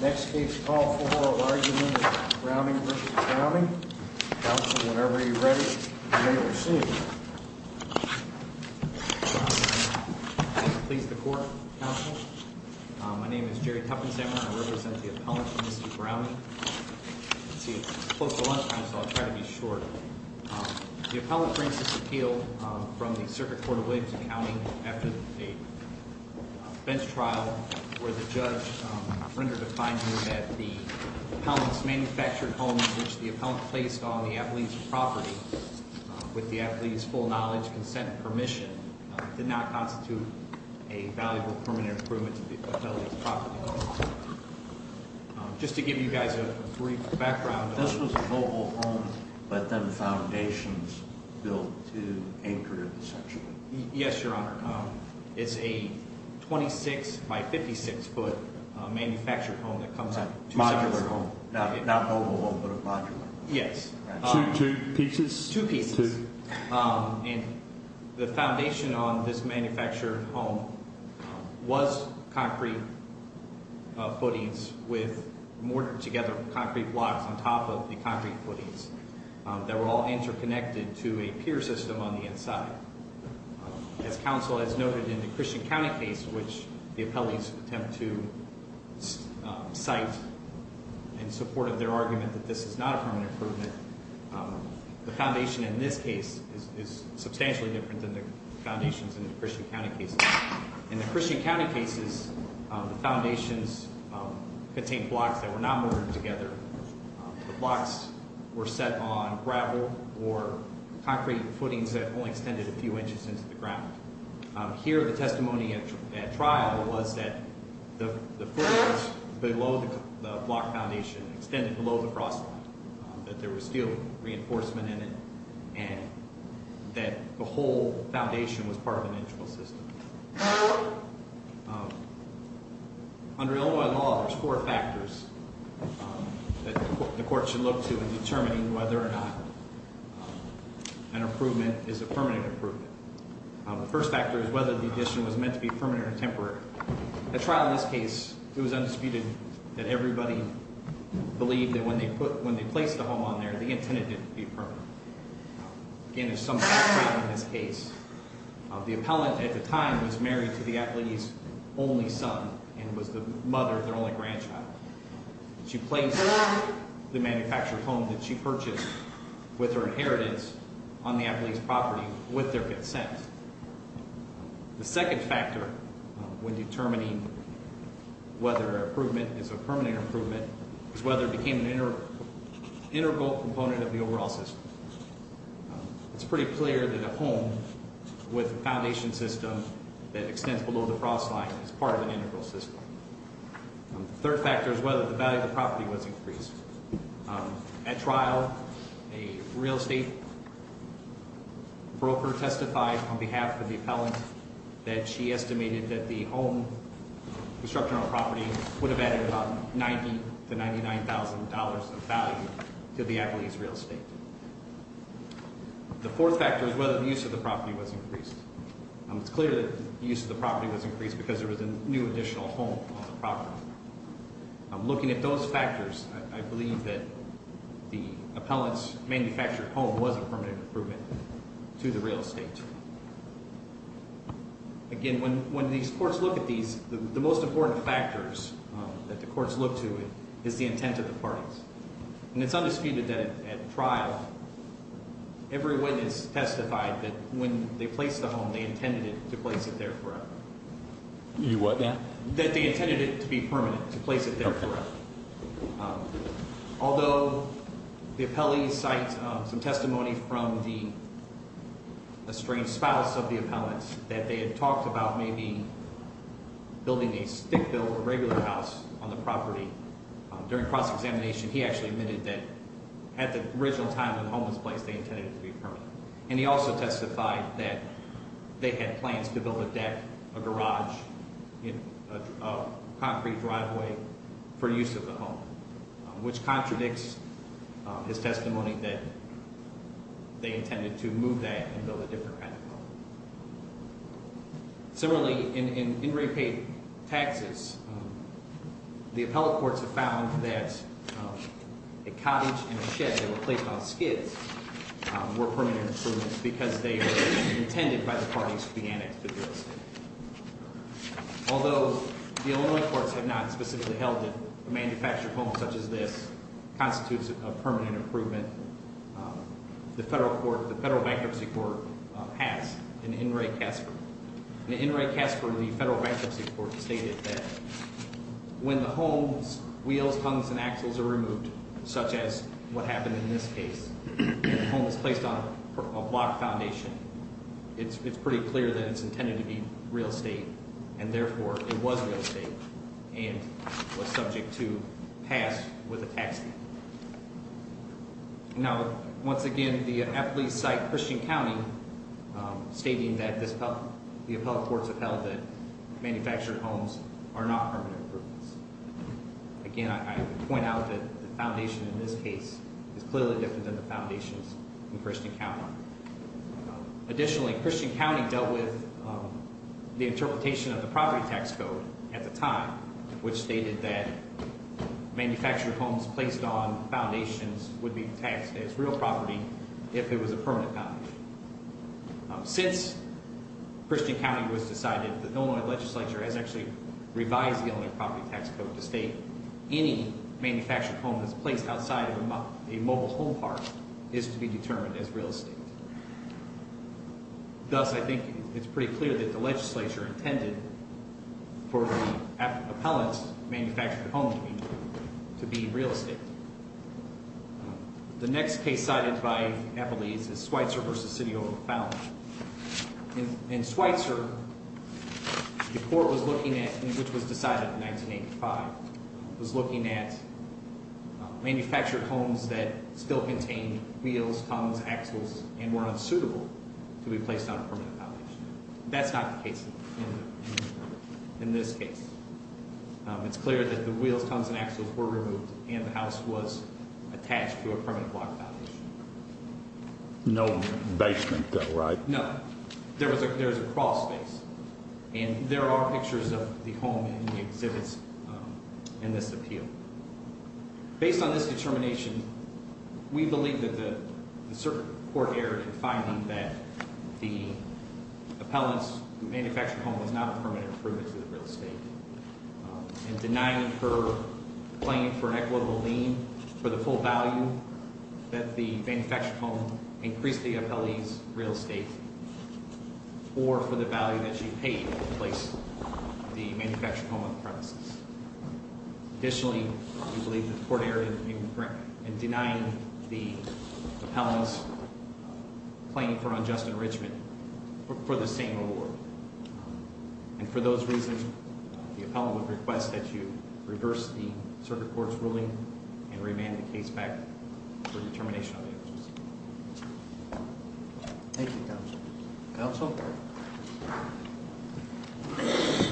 Next case, Paul Fajora, argument of Browning v. Browning. Counsel, whenever you're ready, you may proceed. Pleased to court, Counsel. My name is Jerry Tuffensammer. I represent the appellant, Mr. Browning. I see it's close to lunchtime, so I'll try to be short. The appellant brings this appeal from the Circuit Court of Williamson County after a bench trial where the judge rendered a finding that the appellant's manufactured home, which the appellant placed on the athlete's property with the athlete's full knowledge, consent, and permission, did not constitute a valuable permanent improvement to the appellant's property. Just to give you guys a brief background. This was a mobile home, but then foundations built to anchor it essentially. Yes, Your Honor. It's a 26 by 56 foot manufactured home that comes out of two sections. Modular home. Not mobile home, but a modular home. Yes. Two pieces? Two pieces. And the foundation on this manufactured home was concrete footings with mortared together concrete blocks on top of the concrete footings that were all interconnected to a pier system on the inside. As counsel has noted in the Christian County case, which the appellees attempt to cite in support of their argument that this is not a permanent improvement, the foundation in this case is substantially different than the foundations in the Christian County cases. In the Christian County cases, the foundations contained blocks that were not mortared together. The blocks were set on gravel or concrete footings that only extended a few inches into the ground. Here the testimony at trial was that the footings below the block foundation extended below the cross line, that there was steel reinforcement in it, and that the whole foundation was part of an internal system. Under Illinois law, there's four factors that the court should look to in determining whether or not an improvement is a permanent improvement. The first factor is whether the addition was meant to be permanent or temporary. At trial in this case, it was undisputed that everybody believed that when they placed the home on there, they intended it to be permanent. Again, there's some background in this case. The appellant at the time was married to the appellee's only son and was the mother of their only grandchild. She placed the manufactured home that she purchased with her inheritance on the appellee's property with their consent. The second factor when determining whether an improvement is a permanent improvement is whether it became an integral component of the overall system. It's pretty clear that a home with a foundation system that extends below the cross line is part of an integral system. The third factor is whether the value of the property was increased. At trial, a real estate broker testified on behalf of the appellant that she estimated that the home construction on property would have added about $90,000 to $99,000 of value to the appellee's real estate. The fourth factor is whether the use of the property was increased. It's clear that the use of the property was increased because there was a new additional home on the property. Looking at those factors, I believe that the appellant's manufactured home was a permanent improvement to the real estate. Again, when these courts look at these, the most important factors that the courts look to is the intent of the parties. And it's undisputed that at trial, every witness testified that when they placed the home, they intended to place it there forever. You what? That they intended it to be permanent, to place it there forever. Although the appellee cites some testimony from the estranged spouse of the appellant that they had talked about maybe building a stick-built, regular house on the property. During cross-examination, he actually admitted that at the original time when the home was placed, they intended it to be permanent. And he also testified that they had plans to build a deck, a garage, a concrete driveway for use of the home, which contradicts his testimony that they intended to move that and build a different kind of home. Similarly, in in repaid taxes, the appellate courts have found that a cottage and a shed that were placed on skids were permanent improvements because they were intended by the parties to be annexed to the real estate. Although the Illinois courts have not specifically held that a manufactured home such as this constitutes a permanent improvement, the Federal Bankruptcy Court passed an in re-casper. In the in re-casper, the Federal Bankruptcy Court stated that when the home's wheels, tongues, and axles are removed, such as what happened in this case, and the home is placed on a block foundation, it's pretty clear that it's intended to be real estate. And therefore, it was real estate and was subject to pass with a tax deed. Now, once again, the appellate cite Christian County stating that the appellate courts have held that manufactured homes are not permanent improvements. Again, I point out that the foundation in this case is clearly different than the foundations in Christian County. Additionally, Christian County dealt with the interpretation of the property tax code at the time, which stated that manufactured homes placed on foundations would be taxed as real property if it was a permanent combination. Since Christian County was decided, the Illinois legislature has actually revised the Illinois property tax code to state any manufactured home that's placed outside of a mobile home park is to be determined as real estate. Thus, I think it's pretty clear that the legislature intended for the appellant's manufactured home to be real estate. The next case cited by Nepalese is Schweitzer v. City of O'Fallon. In Schweitzer, the court was looking at, which was decided in 1985, was looking at manufactured homes that still contained wheels, tongues, axles, and were unsuitable to be placed on a permanent foundation. That's not the case in this case. It's clear that the wheels, tongues, and axles were removed and the house was attached to a permanent block foundation. No basement though, right? No, there was a crawl space. And there are pictures of the home in the exhibits in this appeal. Based on this determination, we believe that the court erred in finding that the appellant's manufactured home was not a permanent improvement to the real estate. And denying her claim for an equitable lien for the full value that the manufactured home increased the appellee's real estate. Or for the value that she paid to place the manufactured home on the premises. Additionally, we believe that the court erred in denying the appellant's claim for unjust enrichment for the same award. And for those reasons, the appellant would request that you reverse the circuit court's ruling and remand the case back for determination of the evidence. Thank you, counsel. Counsel? Thank you.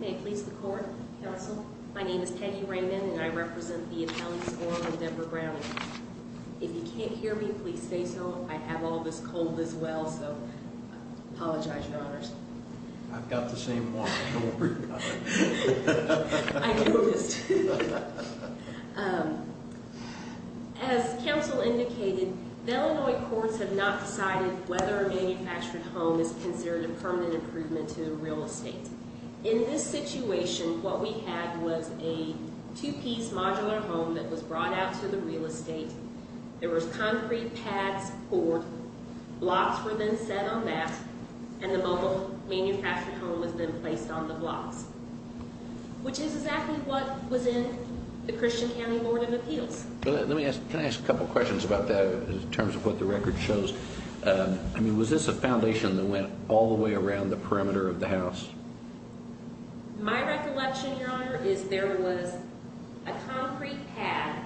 May it please the court, counsel? My name is Peggy Raymond and I represent the appellants Orlin and Deborah Browning. If you can't hear me, please say so. I have all this cold as well, so I apologize, your honors. I've got the same walkie-talkie. I noticed. As counsel indicated, the Illinois courts have not decided whether a manufactured home is considered a permanent improvement to the real estate. In this situation, what we had was a two-piece modular home that was brought out to the real estate. There was concrete pads poured, blocks were then set on that, and the mobile manufactured home was then placed on the blocks. Which is exactly what was in the Christian County Board of Appeals. Let me ask, can I ask a couple questions about that in terms of what the record shows? I mean, was this a foundation that went all the way around the perimeter of the house? My recollection, your honor, is there was a concrete pad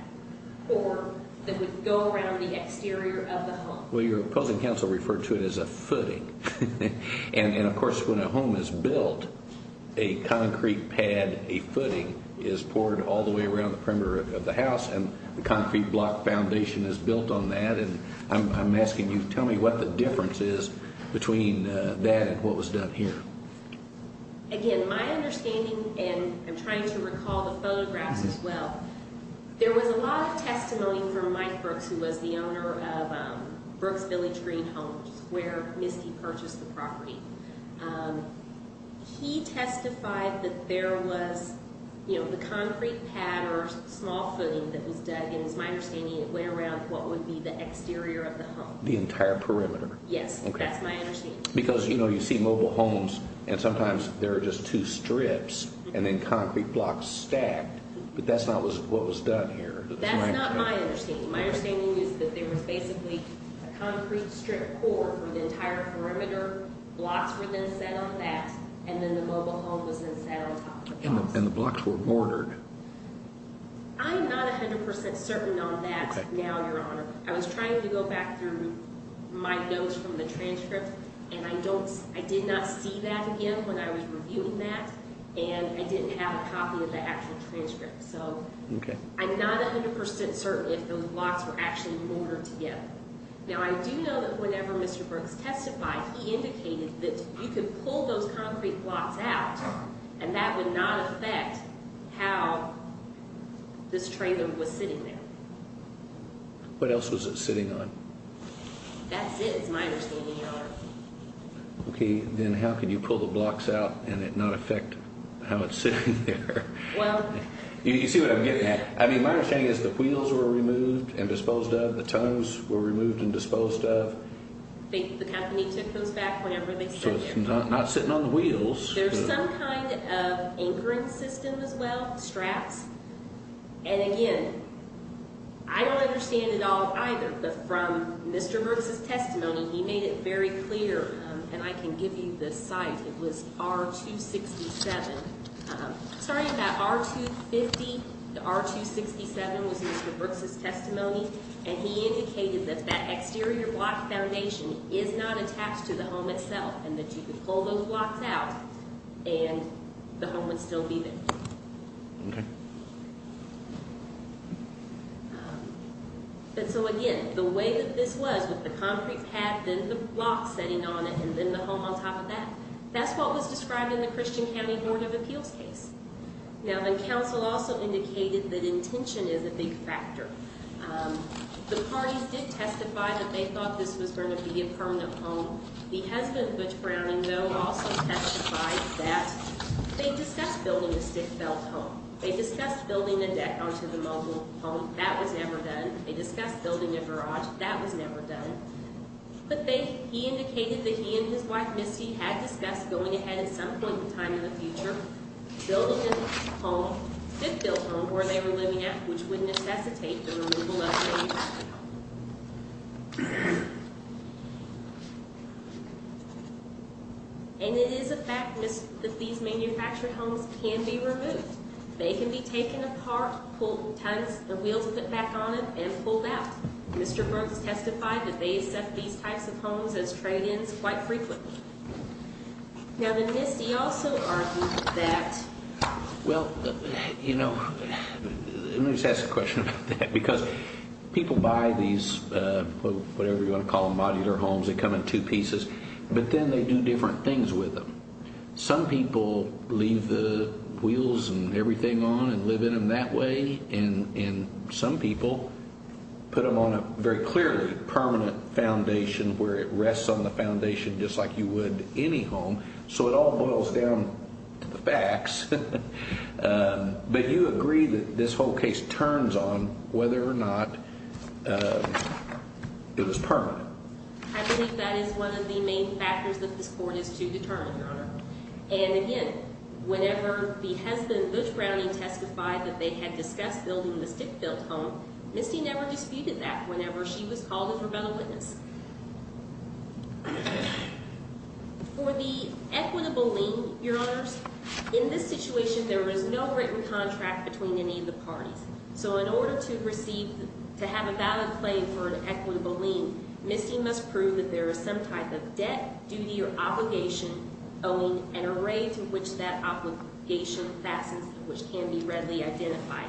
poured that would go around the exterior of the home. Well, your opposing counsel referred to it as a footing. And of course, when a home is built, a concrete pad, a footing, is poured all the way around the perimeter of the house and the concrete block foundation is built on that. I'm asking you, tell me what the difference is between that and what was done here. Again, my understanding, and I'm trying to recall the photographs as well, there was a lot of testimony from Mike Brooks, who was the owner of Brooks Village Green Homes, where Misty purchased the property. He testified that there was, you know, the concrete pad or small footing that was dug, and it's my understanding it went around what would be the exterior of the home. The entire perimeter. Yes, that's my understanding. Because, you know, you see mobile homes and sometimes there are just two strips and then concrete blocks stacked, but that's not what was done here. That's not my understanding. My understanding is that there was basically a concrete strip poured from the entire perimeter, blocks were then set on that, and then the mobile home was then set on top of that. And the blocks were bordered. I'm not 100% certain on that now, your honor. I was trying to go back through my notes from the transcript, and I did not see that again when I was reviewing that, and I didn't have a copy of the actual transcript. So, I'm not 100% certain if those blocks were actually bordered together. Now, I do know that whenever Mr. Brooks testified, he indicated that you could pull those concrete blocks out, and that would not affect how this trailer was sitting there. What else was it sitting on? That's it, is my understanding, your honor. Okay, then how could you pull the blocks out and it not affect how it's sitting there? You see what I'm getting at? I mean, my understanding is the wheels were removed and disposed of, the tongues were removed and disposed of. The company took those back whenever they set them. So, it's not sitting on the wheels. There's some kind of anchoring system as well, straps. And again, I don't understand it all either, but from Mr. Brooks' testimony, he made it very clear, and I can give you the site, it was R-267. Sorry about R-250, the R-267 was Mr. Brooks' testimony. And he indicated that that exterior block foundation is not attached to the home itself, and that you could pull those blocks out, and the home would still be there. Okay. But so again, the way that this was, with the concrete pad, then the blocks sitting on it, and then the home on top of that, that's what was described in the Christian County Board of Appeals case. Now, the council also indicated that intention is a big factor. The parties did testify that they thought this was going to be a permanent home. The husband, Butch Browning, though, also testified that. They discussed building a stick-belt home. They discussed building a deck onto the mobile home. That was never done. They discussed building a garage. That was never done. But they, he indicated that he and his wife, Misty, had discussed going ahead at some point in time in the future, building a home, stick-belt home, where they were living at, which would necessitate the removal of the home. And it is a fact that these manufactured homes can be removed. They can be taken apart, pulled, the wheels put back on it, and pulled out. Mr. Brooks testified that they accept these types of homes as trade-ins quite frequently. Now, then, Misty also argued that... Well, you know, let me just ask a question about that, because people buy these, whatever you want to call them, modular homes, they come in two pieces, but then they do different things with them. Some people leave the wheels and everything on and live in them that way, and some people put them on a very clearly permanent foundation where it rests on the foundation just like you would any home, so it all boils down to the facts. But you agree that this whole case turns on whether or not it was permanent. I believe that is one of the main factors that this Court is to determine, Your Honor. And again, whenever the husband, Lutz Browning, testified that they had discussed building the Stickfield home, Misty never disputed that whenever she was called in for battle witness. For the equitable lien, Your Honors, in this situation, there was no written contract between any of the parties. So in order to receive, to have a valid claim for an equitable lien, Misty must prove that there is some type of debt, duty, or obligation owing an array to which that obligation fastens, which can be readily identified.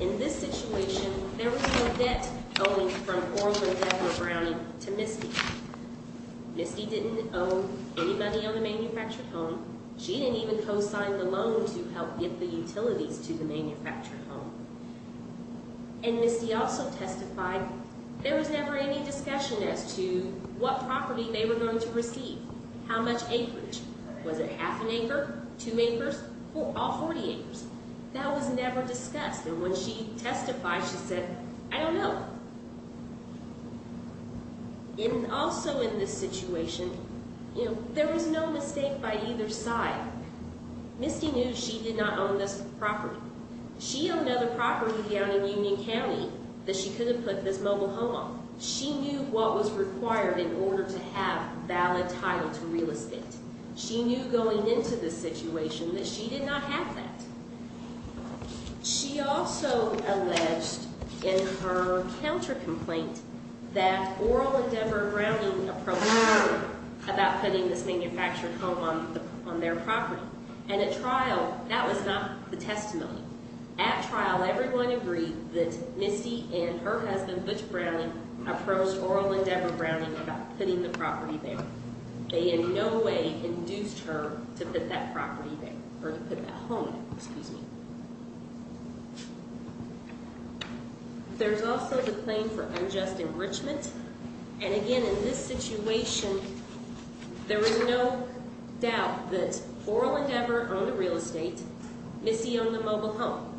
In this situation, there was no debt owing from Orlin, Debra, or Browning to Misty. Misty didn't owe any money on the manufactured home. She didn't even co-sign the loan to help get the utilities to the manufactured home. And Misty also testified there was never any discussion as to what property they were going to receive. How much acreage? Was it half an acre? Two acres? All 40 acres? That was never discussed, and when she testified, she said, I don't know. And also in this situation, you know, there was no mistake by either side. Misty knew she did not own this property. She owned another property down in Union County that she couldn't put this mobile home on. She knew what was required in order to have valid title to real estate. She knew going into this situation that she did not have that. She also alleged in her counter-complaint that Orlin, Debra, and Browning approached Orlin about putting this manufactured home on their property. And at trial, that was not the testimony. At trial, everyone agreed that Misty and her husband, Butch Browning, approached Orlin, Debra, and Browning about putting the property there. They in no way induced her to put that property there, or to put that home there. Excuse me. There's also the claim for unjust enrichment. And again, in this situation, there is no doubt that Orlin and Debra own the real estate. Misty owned the mobile home.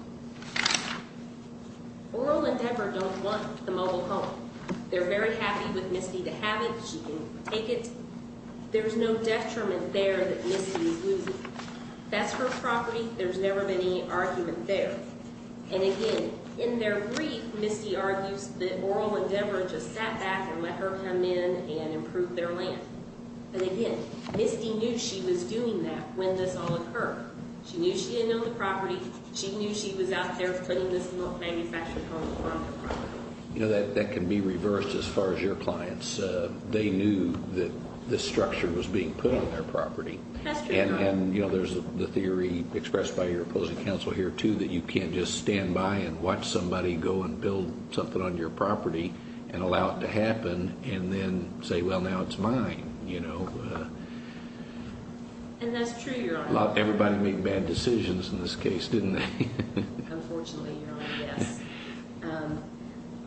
Orlin and Debra don't want the mobile home. They're very happy with Misty to have it. She can take it. There's no detriment there that Misty is losing. That's her property. There's never been any argument there. And again, in their grief, Misty argues that Orlin and Debra just sat back and let her come in and improve their land. And again, Misty knew she was doing that when this all occurred. She knew she didn't own the property. She knew she was out there putting this manufactured home on the property. You know, that can be reversed as far as your clients. They knew that this structure was being put on their property. And there's the theory expressed by your opposing counsel here, too, that you can't just stand by and watch somebody go and build something on your property and allow it to happen and then say, well, now it's mine. And that's true, Your Honor. Everybody made bad decisions in this case, didn't they? Unfortunately, Your Honor, yes.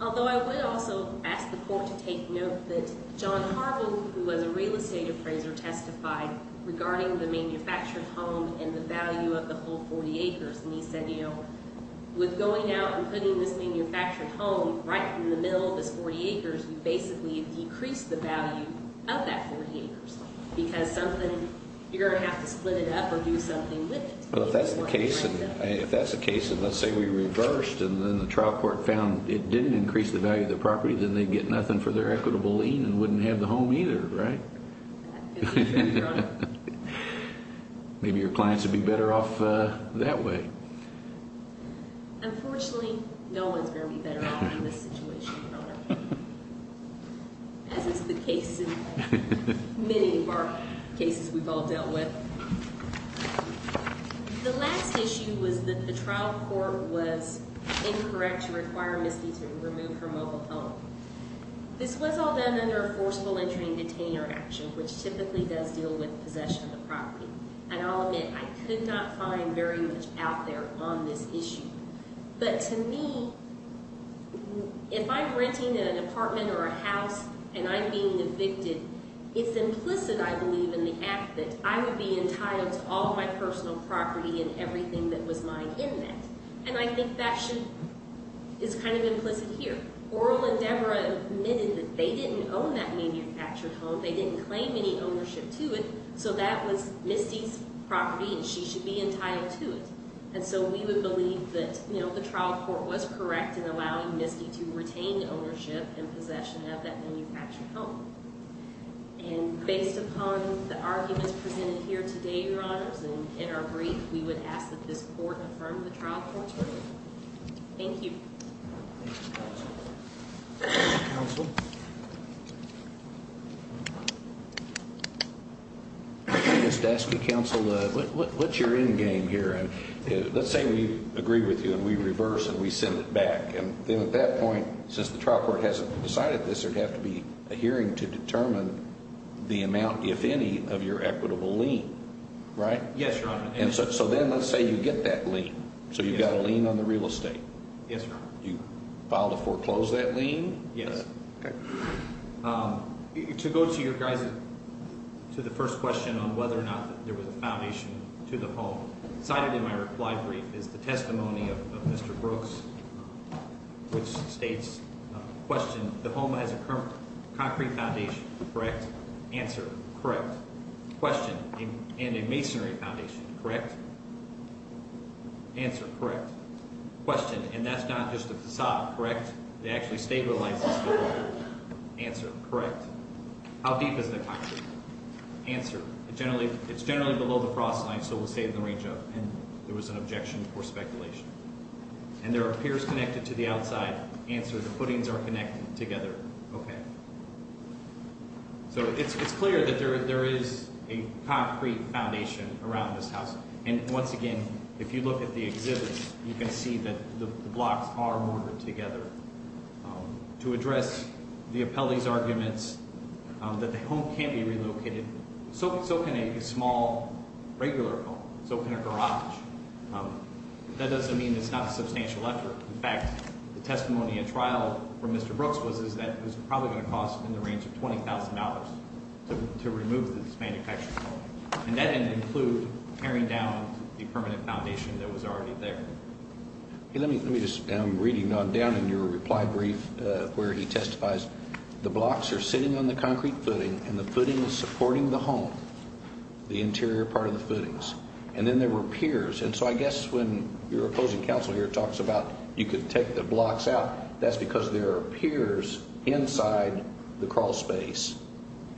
Although I would also ask the court to take note that John Carville, who was a real estate appraiser, testified regarding the manufactured home and the value of the whole 40 acres. And he said, you know, with going out and putting this manufactured home right in the middle of this 40 acres, you basically decrease the value of that 40 acres because you're going to have to split it up or do something with it. Well, if that's the case and let's say we reversed and then the trial court found it didn't increase the value of the property, then they'd get nothing for their equitable lien and wouldn't have the home either, right? That could be true, Your Honor. Maybe your clients would be better off that way. Unfortunately, no one's going to be better off in this situation, Your Honor. As is the case in many of our cases we've all dealt with. The last issue was that the trial court was incorrect to require Misty to remove her mobile home. This was all done under a forcible entry and detainer action, which typically does deal with possession of the property. And I'll admit, I could not find very much out there on this issue. But to me, if I'm renting an apartment or a house and I'm being evicted, it's implicit, I believe, in the act that I would be entitled to all of my personal property and everything that was mine in that. And I think that is kind of implicit here. Oral and Deborah admitted that they didn't own that manufactured home. They didn't claim any ownership to it. So that was Misty's property and she should be entitled to it. And so we would believe that, you know, the trial court was correct in allowing Misty to retain ownership and possession of that manufactured home. And based upon the arguments presented here today, Your Honors, and in our brief, we would ask that this court affirm the trial court's ruling. Thank you. Mr. Counsel. Mr. Daske, Counsel, what's your endgame here? Let's say we agree with you and we reverse and we send it back. And then at that point, since the trial court hasn't decided this, there would have to be a hearing to determine the amount, if any, of your equitable lien, right? Yes, Your Honor. So then let's say you get that lien. So you've got a lien on the real estate. Yes, Your Honor. So is that lien? Yes. To go to the first question on whether or not there was a foundation to the home, cited in my reply brief is the testimony of Mr. Brooks, which states, question, the home has a concrete foundation, correct? Answer, correct. Question, and a masonry foundation, correct? Answer, correct. Question, and that's not just a facade, correct? It actually stabilizes the building. Answer, correct. How deep is the concrete? Answer, it's generally below the frost line, so we'll say in the range of, and there was an objection for speculation. And there are piers connected to the outside. Answer, the footings are connected together. Okay. So it's clear that there is a concrete foundation around this house. And once again, if you look at the exhibits, you can see that the blocks are mortared together. To address the appellee's arguments that the home can't be relocated, so can a small, regular home. So can a garage. That doesn't mean it's not a substantial effort. In fact, the testimony at trial from Mr. Brooks was that it was probably going to cost in the range of $20,000 to remove this manufactured home. And that didn't include tearing down the permanent foundation that was already there. Let me just, I'm reading on down in your reply brief where he testifies. The blocks are sitting on the concrete footing and the footing is supporting the home. The interior part of the footings. And then there were piers. And so I guess when your opposing counsel here talks about you could take the blocks out, that's because there are piers inside the crawl space.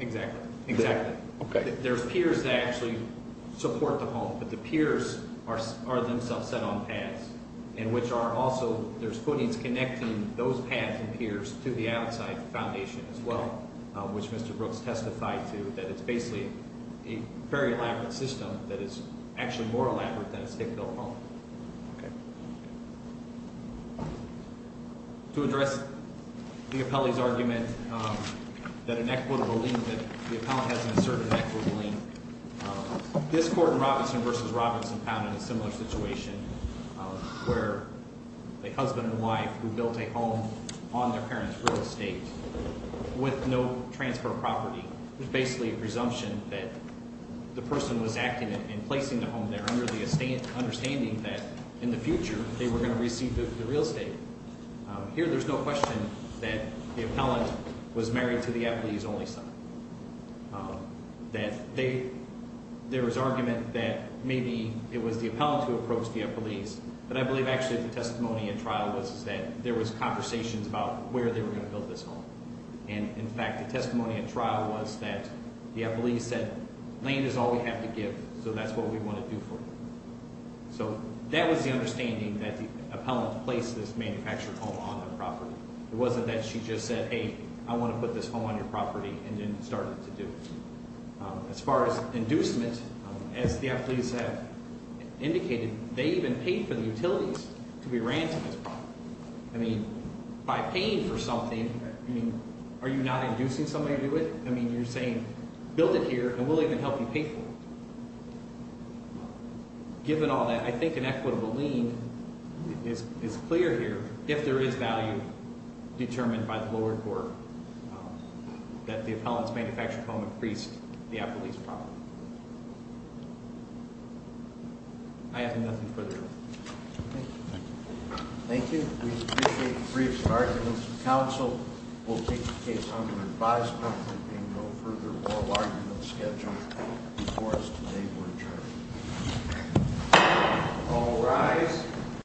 Exactly. There are piers that actually support the home, but the piers are themselves set on pad. And which are also, there's footings connecting those pads and piers to the outside foundation as well, which Mr. Brooks testified to that it's basically a very elaborate system that is actually more elaborate than a state-built home. To address the appellee's argument that an equitable lien, that the appellant hasn't asserted an equitable lien, this court in Robinson v. Robinson found in a similar situation where the husband and wife who built a home on their parents' real estate with no transfer of property, it was basically a presumption that the person was acting in placing the home there under the understanding that in the future they were going to receive the real estate. Here there's no question that the appellant was married to the appellee's only son. That there was argument that maybe it was the appellant who approached the appellee's but I believe actually the testimony at trial was that there was conversations about where they were going to build this home. And in fact the testimony at trial was that the appellee said, land is all we have to give so that's what we want to do for you. So that was the understanding that the appellant placed this manufactured home on the property. It wasn't that she just said, hey, I want to put this home on your property and then started to do it. As far as inducement, as the appellees have indicated, they even paid for the utilities to be ran to this property. I mean, by paying for something, are you not inducing somebody to do it? I mean, you're saying, build it here and we'll even help you pay for it. Given all that, I think an equitable lien is clear here if there is value determined by the lower court that the appellant's manufactured home increased the appellee's property. I have nothing further. Thank you. Thank you. We appreciate the brief arguments. The counsel will take the case on to the advisory committee and go further along in the schedule before us today for adjournment. All rise.